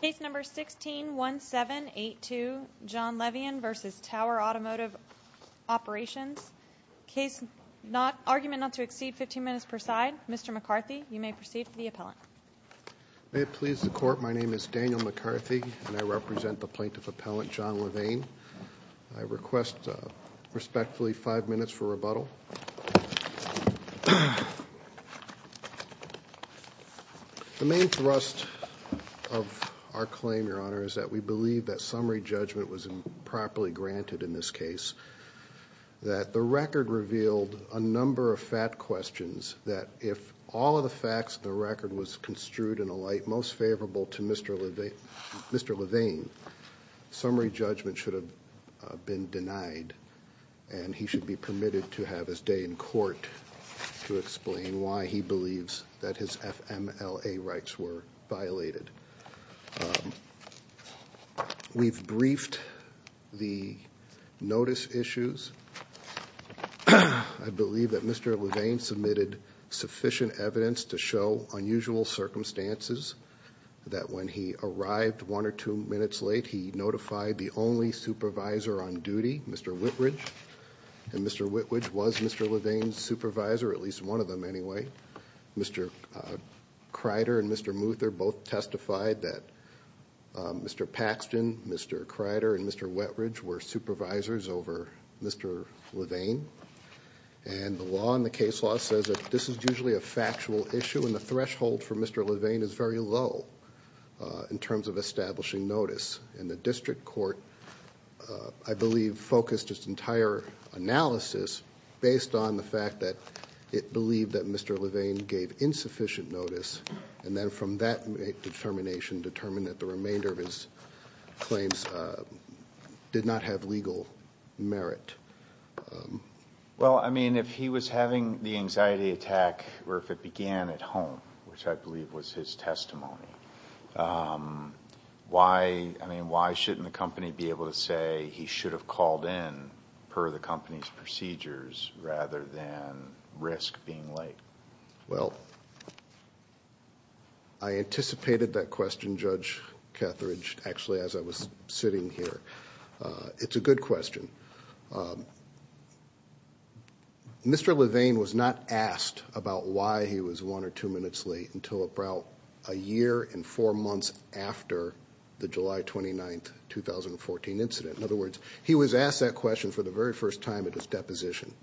Case number 161782, John Levine v. Tower Automotive Operations. Case not, argument not to exceed 15 minutes per side. Mr. McCarthy, you may proceed for the appellant. May it please the Court, my name is Daniel McCarthy and I represent the plaintiff appellant, John Levaine. The main thrust of our claim, Your Honor, is that we believe that summary judgment was improperly granted in this case, that the record revealed a number of fat questions, that if all of the facts in the record was construed in a light most favorable to Mr. Levine, summary judgment should have been denied and he should be permitted to have his day in court to explain why he believes that his FMLA rights were violated. We've briefed the notice issues. I believe that Mr. Levine submitted sufficient evidence to show unusual circumstances, that when he arrived one or two minutes late, he notified the only supervisor on duty, Mr. Whitridge, and Mr. Whitridge was Mr. Levine's supervisor, at least one of them anyway. Mr. Crider and Mr. Muther both testified that Mr. Paxton, Mr. Crider, and Mr. Whitridge were supervisors over Mr. Levine. And the law and the case law says that this is usually a factual issue and the threshold for Mr. Levine is very low in terms of establishing notice. And the district court, I believe, focused its entire analysis based on the fact that it believed that Mr. Levine gave insufficient notice and then from that determination determined that the remainder of his claims did not have legal merit. Well, I mean, if he was having the anxiety attack or if it began at home, which I believe was his testimony, why shouldn't the company be able to say he should have called in per the company's procedures rather than risk being late? Well, I anticipated that question, Judge Ketheridge, actually as I was sitting here. It's a good question. Mr. Levine was not asked about why he was one or two minutes late until about a year and four months after the July 29th, 2014 incident. In other words, he was asked that question for the very first time at his deposition.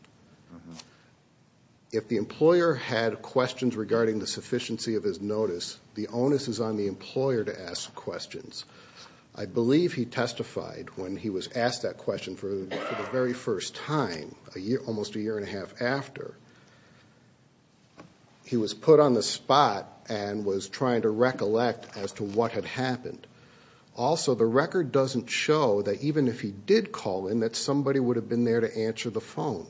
If the employer had questions regarding the sufficiency of his notice, the onus is on the employer to ask questions. I believe he testified when he was asked that question for the very first time almost a year and a half after. He was put on the spot and was trying to recollect as to what had happened. Also, the record doesn't show that even if he did call in, that somebody would have been there to answer the phone.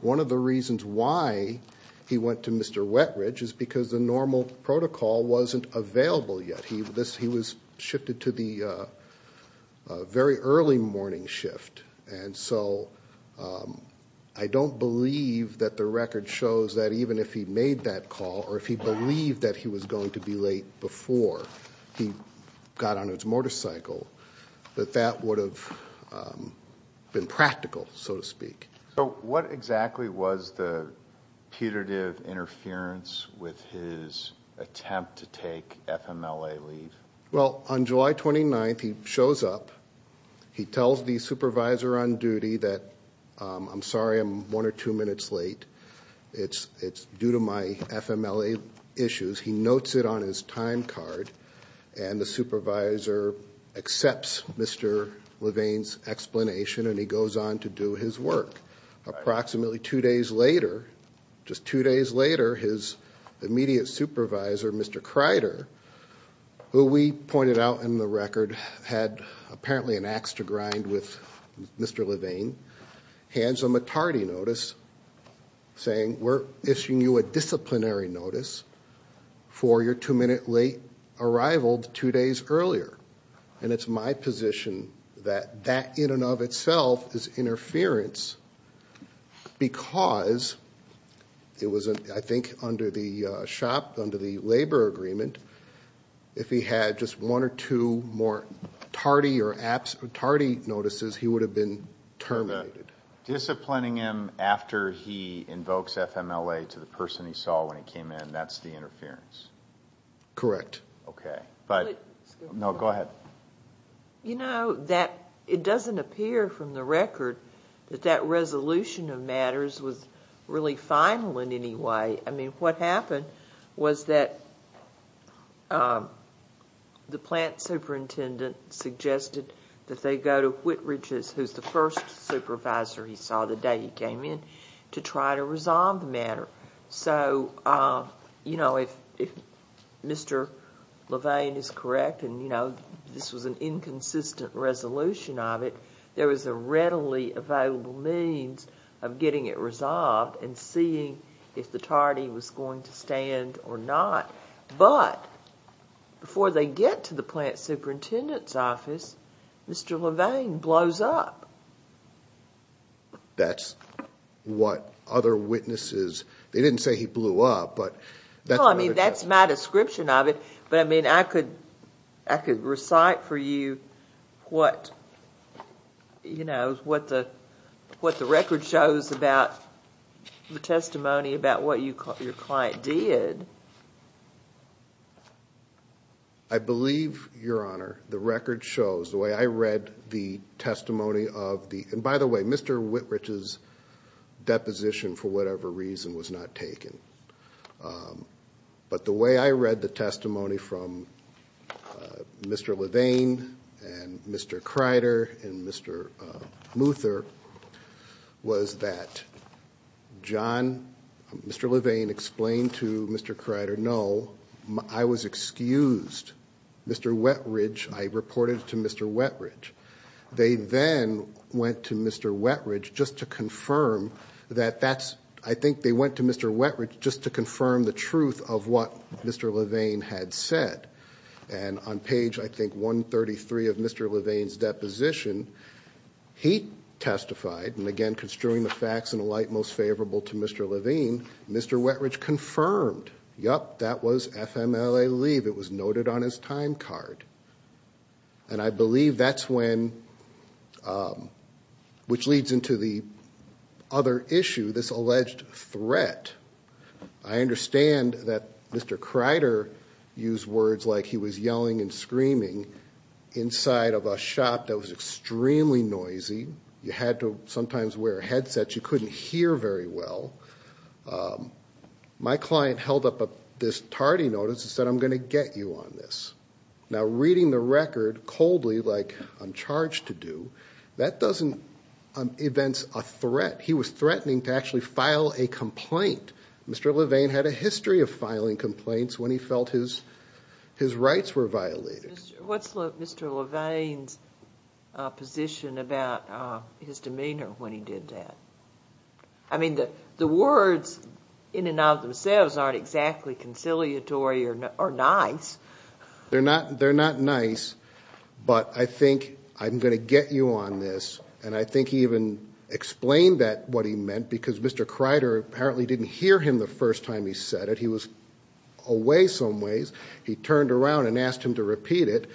One of the reasons why he went to Mr. Wetridge is because the normal protocol wasn't available yet. He was shifted to the very early morning shift. And so I don't believe that the record shows that even if he made that call or if he believed that he was going to be late before he got on his motorcycle, that that would have been practical, so to speak. So what exactly was the putative interference with his attempt to take FMLA leave? Well, on July 29th, he shows up. He tells the supervisor on duty that, I'm sorry, I'm one or two minutes late. It's due to my FMLA issues. He notes it on his time card. And the supervisor accepts Mr. Levain's explanation and he goes on to do his work. Approximately two days later, just two days later, his immediate supervisor, Mr. Crider, who we pointed out in the record had apparently an ax to grind with Mr. Levain, hands him a TARDI notice saying, we're issuing you a disciplinary notice for your two-minute late arrival two days earlier. And it's my position that that in and of itself is interference because it was, I think, under the shop, under the labor agreement, if he had just one or two more TARDI notices, he would have been terminated. Disciplining him after he invokes FMLA to the person he saw when he came in, that's the interference? Correct. Okay. No, go ahead. You know, it doesn't appear from the record that that resolution of matters was really final in any way. I mean, what happened was that the plant superintendent suggested that they go to Whitridges, who's the first supervisor he saw the day he came in, to try to resolve the matter. So, you know, if Mr. Levain is correct and, you know, this was an inconsistent resolution of it, there was a readily available means of getting it resolved and seeing if the TARDI was going to stand or not. But before they get to the plant superintendent's office, Mr. Levain blows up. That's what other witnesses... they didn't say he blew up, but... You know, what the record shows about the testimony about what your client did... I believe, Your Honor, the record shows, the way I read the testimony of the... And, by the way, Mr. Whitridge's deposition, for whatever reason, was not taken. But, the way I read the testimony from Mr. Levain and Mr. Kreider and Mr. Muther was that John... Mr. Levain explained to Mr. Kreider, no, I was excused. Mr. Whitridge... I reported it to Mr. Whitridge. They then went to Mr. Whitridge just to confirm that that's... I think they went to Mr. Whitridge just to confirm the truth of what Mr. Levain had said. And, on page, I think, 133 of Mr. Levain's deposition, he testified. And, again, construing the facts in a light most favorable to Mr. Levain, Mr. Whitridge confirmed. Yup, that was FMLA leave. It was noted on his time card. And, I believe that's when... which leads into the other issue, this alleged threat. I understand that Mr. Kreider used words like he was yelling and screaming inside of a shop that was extremely noisy. You had to sometimes wear a headset. You couldn't hear very well. My client held up this tardy notice and said, I'm going to get you on this. Now, reading the record coldly, like I'm charged to do, that doesn't evince a threat. He was threatening to actually file a complaint. Mr. Levain had a history of filing complaints when he felt his rights were violated. What's Mr. Levain's position about his demeanor when he did that? I mean, the words in and of themselves aren't exactly conciliatory or nice. They're not nice, but I think I'm going to get you on this. And I think he even explained that, what he meant, because Mr. Kreider apparently didn't hear him the first time he said it. He was away some ways. He turned around and asked him to repeat it.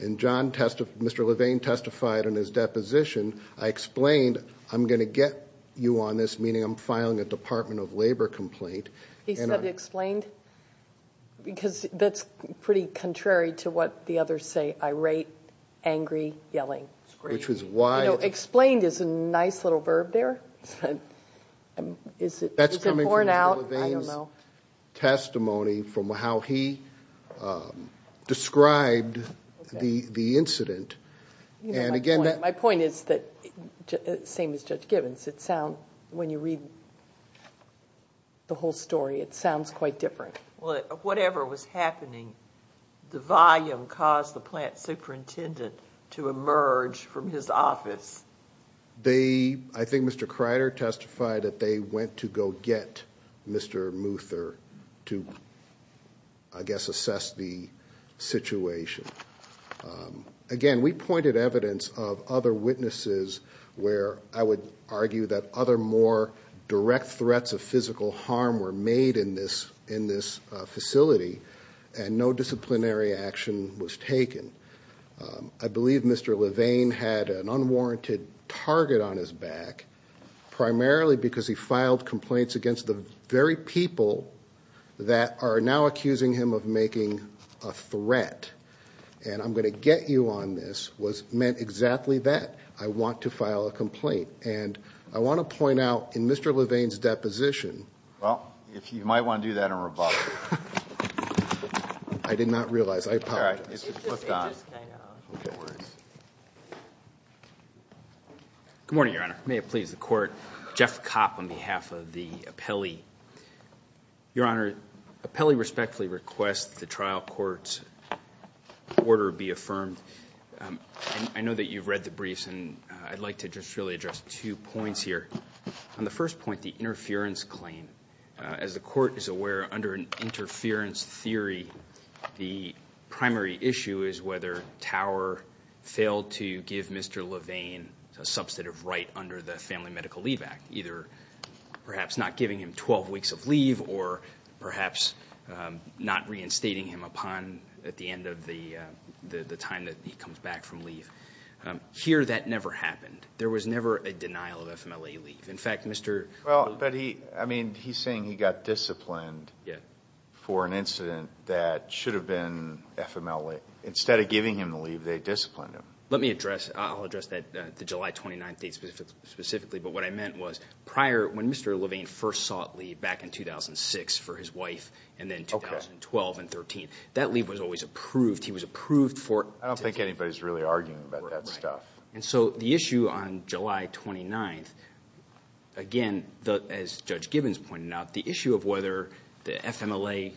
And Mr. Levain testified in his deposition, I explained, I'm going to get you on this, meaning I'm filing a Department of Labor complaint. He said explained? Because that's pretty contrary to what the others say, irate, angry, yelling. You know, explained is a nice little verb there. Is it borne out? I don't know. My point is that, same as Judge Gibbons, when you read the whole story, it sounds quite different. Whatever was happening, the volume caused the plant superintendent to emerge from his office. I think Mr. Kreider testified that they went to go get Mr. Muther to, I guess, assess the situation. Again, we pointed evidence of other witnesses where I would argue that other more direct threats of physical harm were made in this facility, and no disciplinary action was taken. I believe Mr. Levain had an unwarranted target on his back, primarily because he filed complaints against the very people that are now accusing him of making a threat. And I'm going to get you on this was meant exactly that. I want to file a complaint. And I want to point out, in Mr. Levain's deposition... Well, you might want to do that in rebuttal. I did not realize. I apologize. It just kind of works. Good morning, Your Honor. May it please the Court. Jeff Kopp on behalf of the appellee. Your Honor, appellee respectfully requests the trial court's order be affirmed. I know that you've read the briefs, and I'd like to just really address two points here. On the first point, the interference claim. As the Court is aware, under an interference theory, the primary issue is whether Tower failed to give Mr. Levain a substantive right under the Family Medical Leave Act, either perhaps not giving him 12 weeks of leave or perhaps not reinstating him upon at the end of the time that he comes back from leave. Here, that never happened. There was never a denial of FMLA leave. Well, but he's saying he got disciplined for an incident that should have been FMLA. Instead of giving him the leave, they disciplined him. Let me address, I'll address the July 29th date specifically, but what I meant was prior, when Mr. Levain first sought leave back in 2006 for his wife, and then 2012 and 13, that leave was always approved. He was approved for... I don't think anybody's really arguing about that stuff. And so the issue on July 29th, again, as Judge Gibbons pointed out, the issue of whether the FMLA,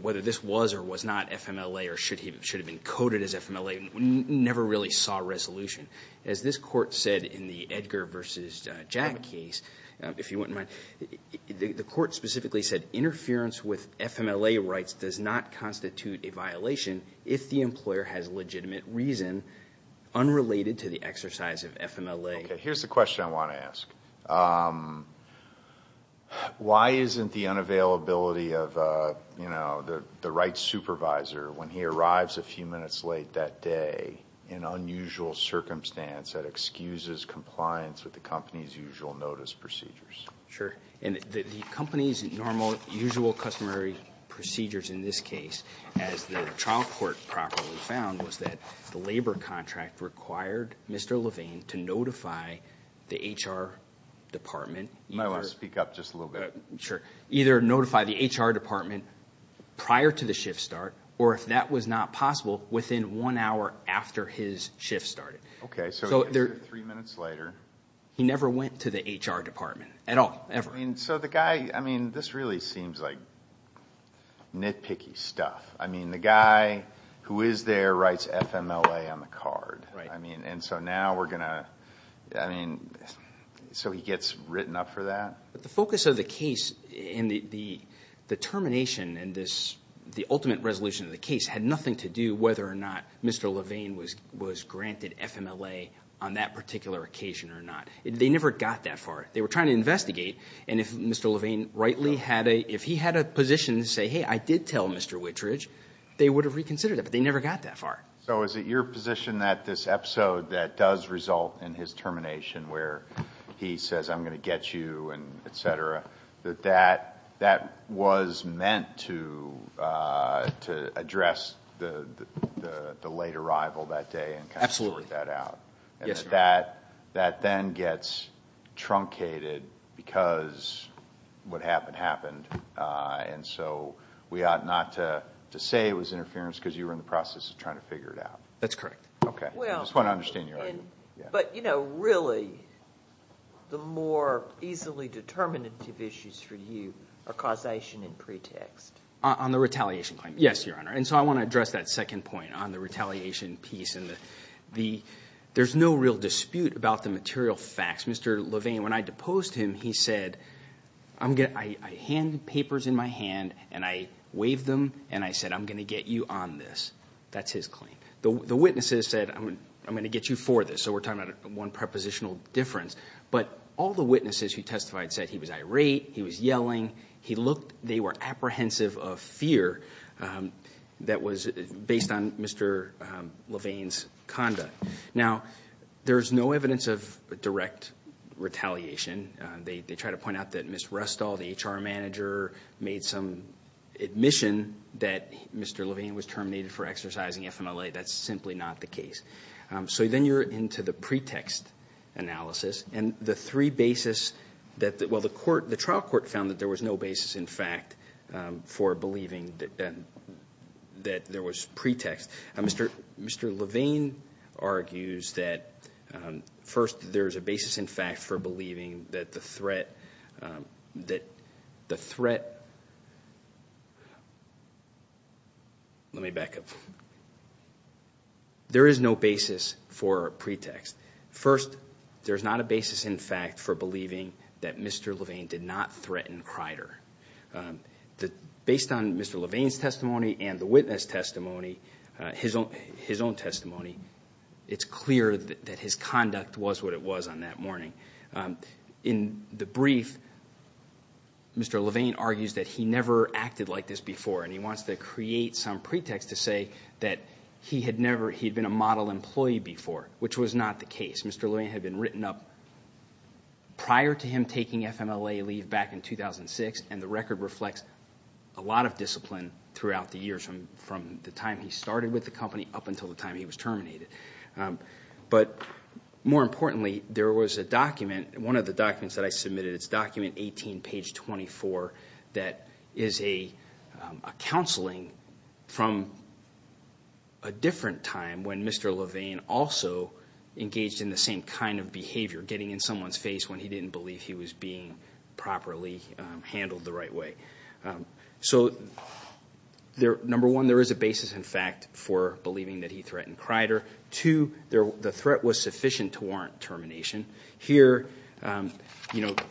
whether this was or was not FMLA or should have been coded as FMLA, never really saw resolution. As this Court said in the Edgar v. Jack case, if you wouldn't mind, the Court specifically said interference with FMLA rights does not constitute a violation if the employer has legitimate reason unrelated to the exercise of FMLA. Okay, here's the question I want to ask. Why isn't the unavailability of the rights supervisor, when he arrives a few minutes late that day in unusual circumstance, that excuses compliance with the company's usual notice procedures? Sure. And the company's normal, usual customary procedures in this case, as the trial court properly found, was that the labor contract required Mr. Levain to notify the HR department. I want to speak up just a little bit. Sure. Either notify the HR department prior to the shift start, or if that was not possible, within one hour after his shift started. Okay, so three minutes later. He never went to the HR department at all, ever. So the guy, I mean, this really seems like nitpicky stuff. I mean, the guy who is there writes FMLA on the card. Right. And so now we're going to, I mean, so he gets written up for that? The focus of the case and the termination and the ultimate resolution of the case had nothing to do whether or not Mr. Levain was granted FMLA on that particular occasion or not. They never got that far. They were trying to investigate, and if Mr. Levain rightly had a, if he had a position to say, hey, I did tell Mr. Wittridge, they would have reconsidered it, but they never got that far. So is it your position that this episode that does result in his termination, where he says I'm going to get you and et cetera, that that was meant to address the late arrival that day and kind of sort that out? Absolutely. Yes, sir. And that then gets truncated because what happened happened, and so we ought not to say it was interference because you were in the process of trying to figure it out. That's correct. Okay. I just want to understand your argument. But, you know, really the more easily determinative issues for you are causation and pretext. On the retaliation claim, yes, Your Honor. And so I want to address that second point on the retaliation piece. There's no real dispute about the material facts. Mr. Levain, when I deposed him, he said I hand papers in my hand, and I waved them, and I said I'm going to get you on this. That's his claim. The witnesses said I'm going to get you for this, so we're talking about one prepositional difference. But all the witnesses who testified said he was irate, he was yelling. They were apprehensive of fear that was based on Mr. Levain's conduct. Now, there's no evidence of direct retaliation. They try to point out that Ms. Rustall, the HR manager, made some admission that Mr. Levain was terminated for exercising FMLA. That's simply not the case. So then you're into the pretext analysis. And the three basis that the trial court found that there was no basis in fact for believing that there was pretext. Mr. Levain argues that, first, there's a basis in fact for believing that the threat Let me back up. There is no basis for pretext. First, there's not a basis in fact for believing that Mr. Levain did not threaten Crider. Based on Mr. Levain's testimony and the witness testimony, his own testimony, it's clear that his conduct was what it was on that morning. In the brief, Mr. Levain argues that he never acted like this before, and he wants to create some pretext to say that he had been a model employee before, which was not the case. Mr. Levain had been written up prior to him taking FMLA leave back in 2006, and the record reflects a lot of discipline throughout the years from the time he started with the company up until the time he was terminated. But more importantly, there was a document, one of the documents that I submitted, it's document 18, page 24, that is a counseling from a different time when Mr. Levain also engaged in the same kind of behavior, getting in someone's face when he didn't believe he was being properly handled the right way. So number one, there is a basis in fact for believing that he threatened Crider. Two, the threat was sufficient to warrant termination. Here, you know, the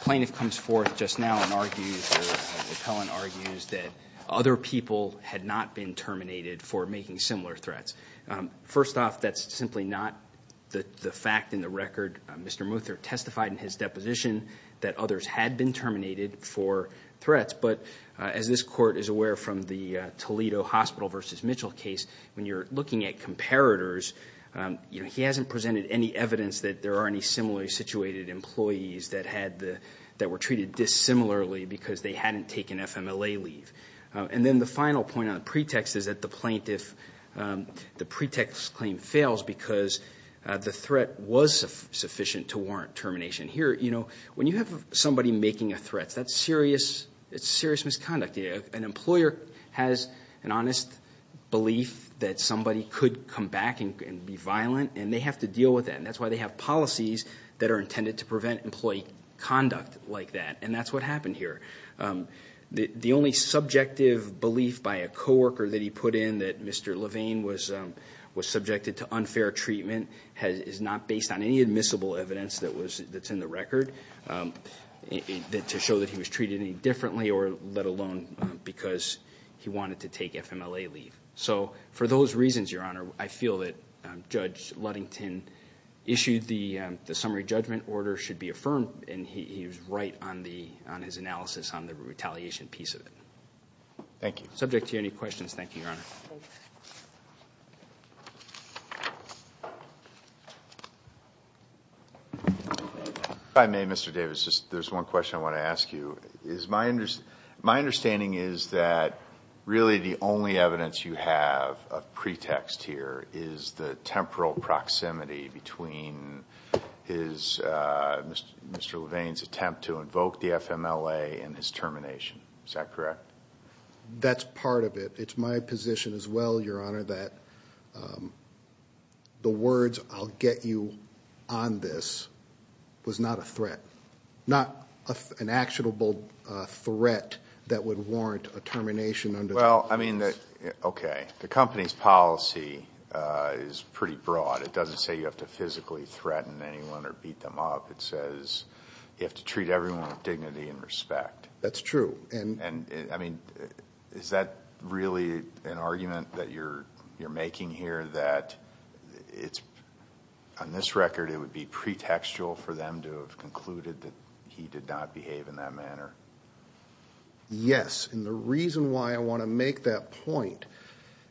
plaintiff comes forth just now and argues, or the appellant argues, that other people had not been terminated for making similar threats. First off, that's simply not the fact in the record. Mr. Muther testified in his deposition that others had been terminated for threats, but as this court is aware from the Toledo Hospital v. Mitchell case, when you're looking at comparators, you know, he hasn't presented any evidence that there are any similarly situated employees that were treated dissimilarly because they hadn't taken FMLA leave. And then the final point on the pretext is that the plaintiff, the pretext claim fails because the threat was sufficient to warrant termination. Here, you know, when you have somebody making a threat, that's serious misconduct. An employer has an honest belief that somebody could come back and be violent, and they have to deal with that. And that's why they have policies that are intended to prevent employee conduct like that. And that's what happened here. The only subjective belief by a co-worker that he put in that Mr. Levine was subjected to unfair treatment is not based on any admissible evidence that's in the record to show that he was treated any differently or let alone because he wanted to take FMLA leave. So for those reasons, Your Honor, I feel that Judge Ludington issued the summary judgment order should be affirmed, and he was right on his analysis on the retaliation piece of it. Thank you. Subject to any questions. Thank you, Your Honor. If I may, Mr. Davis, there's one question I want to ask you. My understanding is that really the only evidence you have of pretext here is the temporal proximity between Mr. Levine's attempt to invoke the FMLA and his termination. Is that correct? That's part of it. It's my position as well, Your Honor, that the words I'll get you on this was not a threat, not an actionable threat that would warrant a termination under the rules. Well, I mean, okay, the company's policy is pretty broad. It doesn't say you have to physically threaten anyone or beat them up. It says you have to treat everyone with dignity and respect. That's true. I mean, is that really an argument that you're making here that it's, on this record, it would be pretextual for them to have concluded that he did not behave in that manner? Yes, and the reason why I want to make that point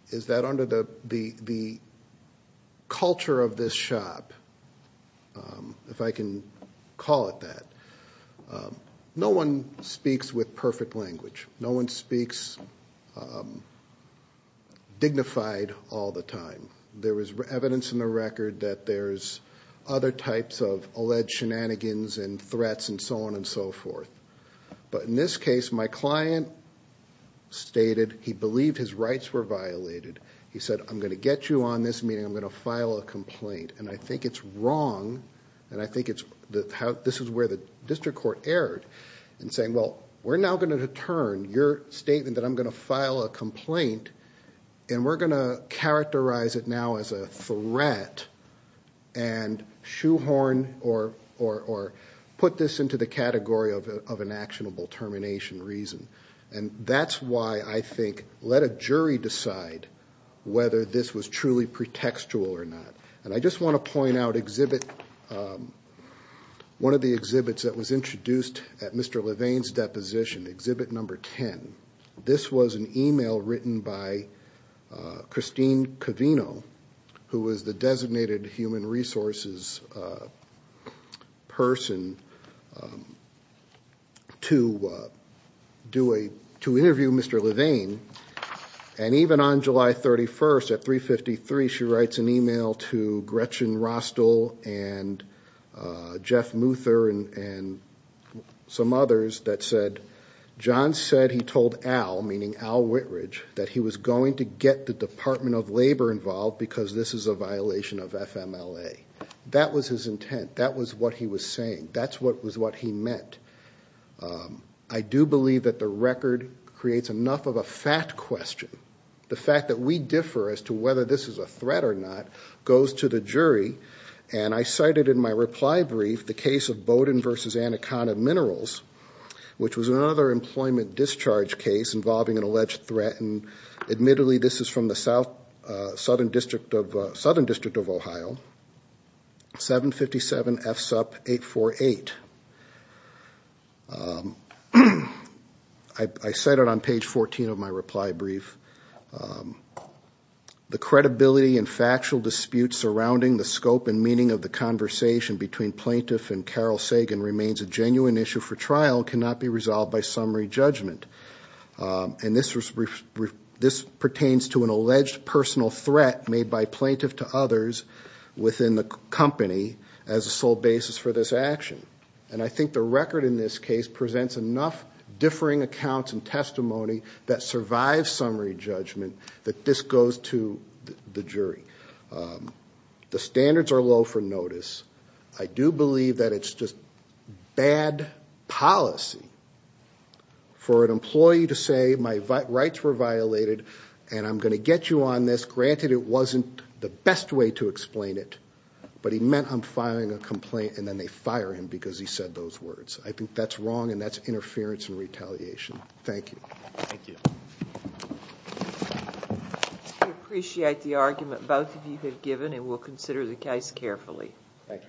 is that under the culture of this shop, if I can call it that, no one speaks with perfect language. No one speaks dignified all the time. There was evidence in the record that there's other types of alleged shenanigans and threats and so on and so forth. But in this case, my client stated he believed his rights were violated. He said, I'm going to get you on this meeting. I'm going to file a complaint, and I think it's wrong, and I think this is where the district court erred in saying, well, we're now going to return your statement that I'm going to file a complaint, and we're going to characterize it now as a threat and shoehorn or put this into the category of an actionable termination reason. And that's why I think let a jury decide whether this was truly pretextual or not. And I just want to point out one of the exhibits that was introduced at Mr. Levain's deposition, exhibit number 10, this was an e-mail written by Christine Covino, who was the designated human resources person to interview Mr. Levain. And even on July 31st at 3.53, she writes an e-mail to Gretchen Rostel and Jeff Muther and some others that said, John said he told Al, meaning Al Whitridge, that he was going to get the Department of Labor involved because this is a violation of FMLA. That was his intent. That was what he was saying. That was what he meant. I do believe that the record creates enough of a fat question. The fact that we differ as to whether this is a threat or not goes to the jury. And I cited in my reply brief the case of Bowden v. Anaconda Minerals, which was another employment discharge case involving an alleged threat. And admittedly, this is from the Southern District of Ohio, 757 FSUP 848. I cited on page 14 of my reply brief, the credibility and factual dispute surrounding the scope and meaning of the conversation between plaintiff and Carol Sagan remains a genuine issue for trial and cannot be resolved by summary judgment. And this pertains to an alleged personal threat made by plaintiff to others within the company as a sole basis for this action. And I think the record in this case presents enough differing accounts and testimony that survives summary judgment that this goes to the jury. The standards are low for notice. I do believe that it's just bad policy for an employee to say, my rights were violated and I'm going to get you on this. Granted, it wasn't the best way to explain it, but he meant I'm firing a complaint and then they fire him because he said those words. I think that's wrong and that's interference and retaliation. Thank you. Thank you. We appreciate the argument both of you have given and we'll consider the case carefully. Thank you.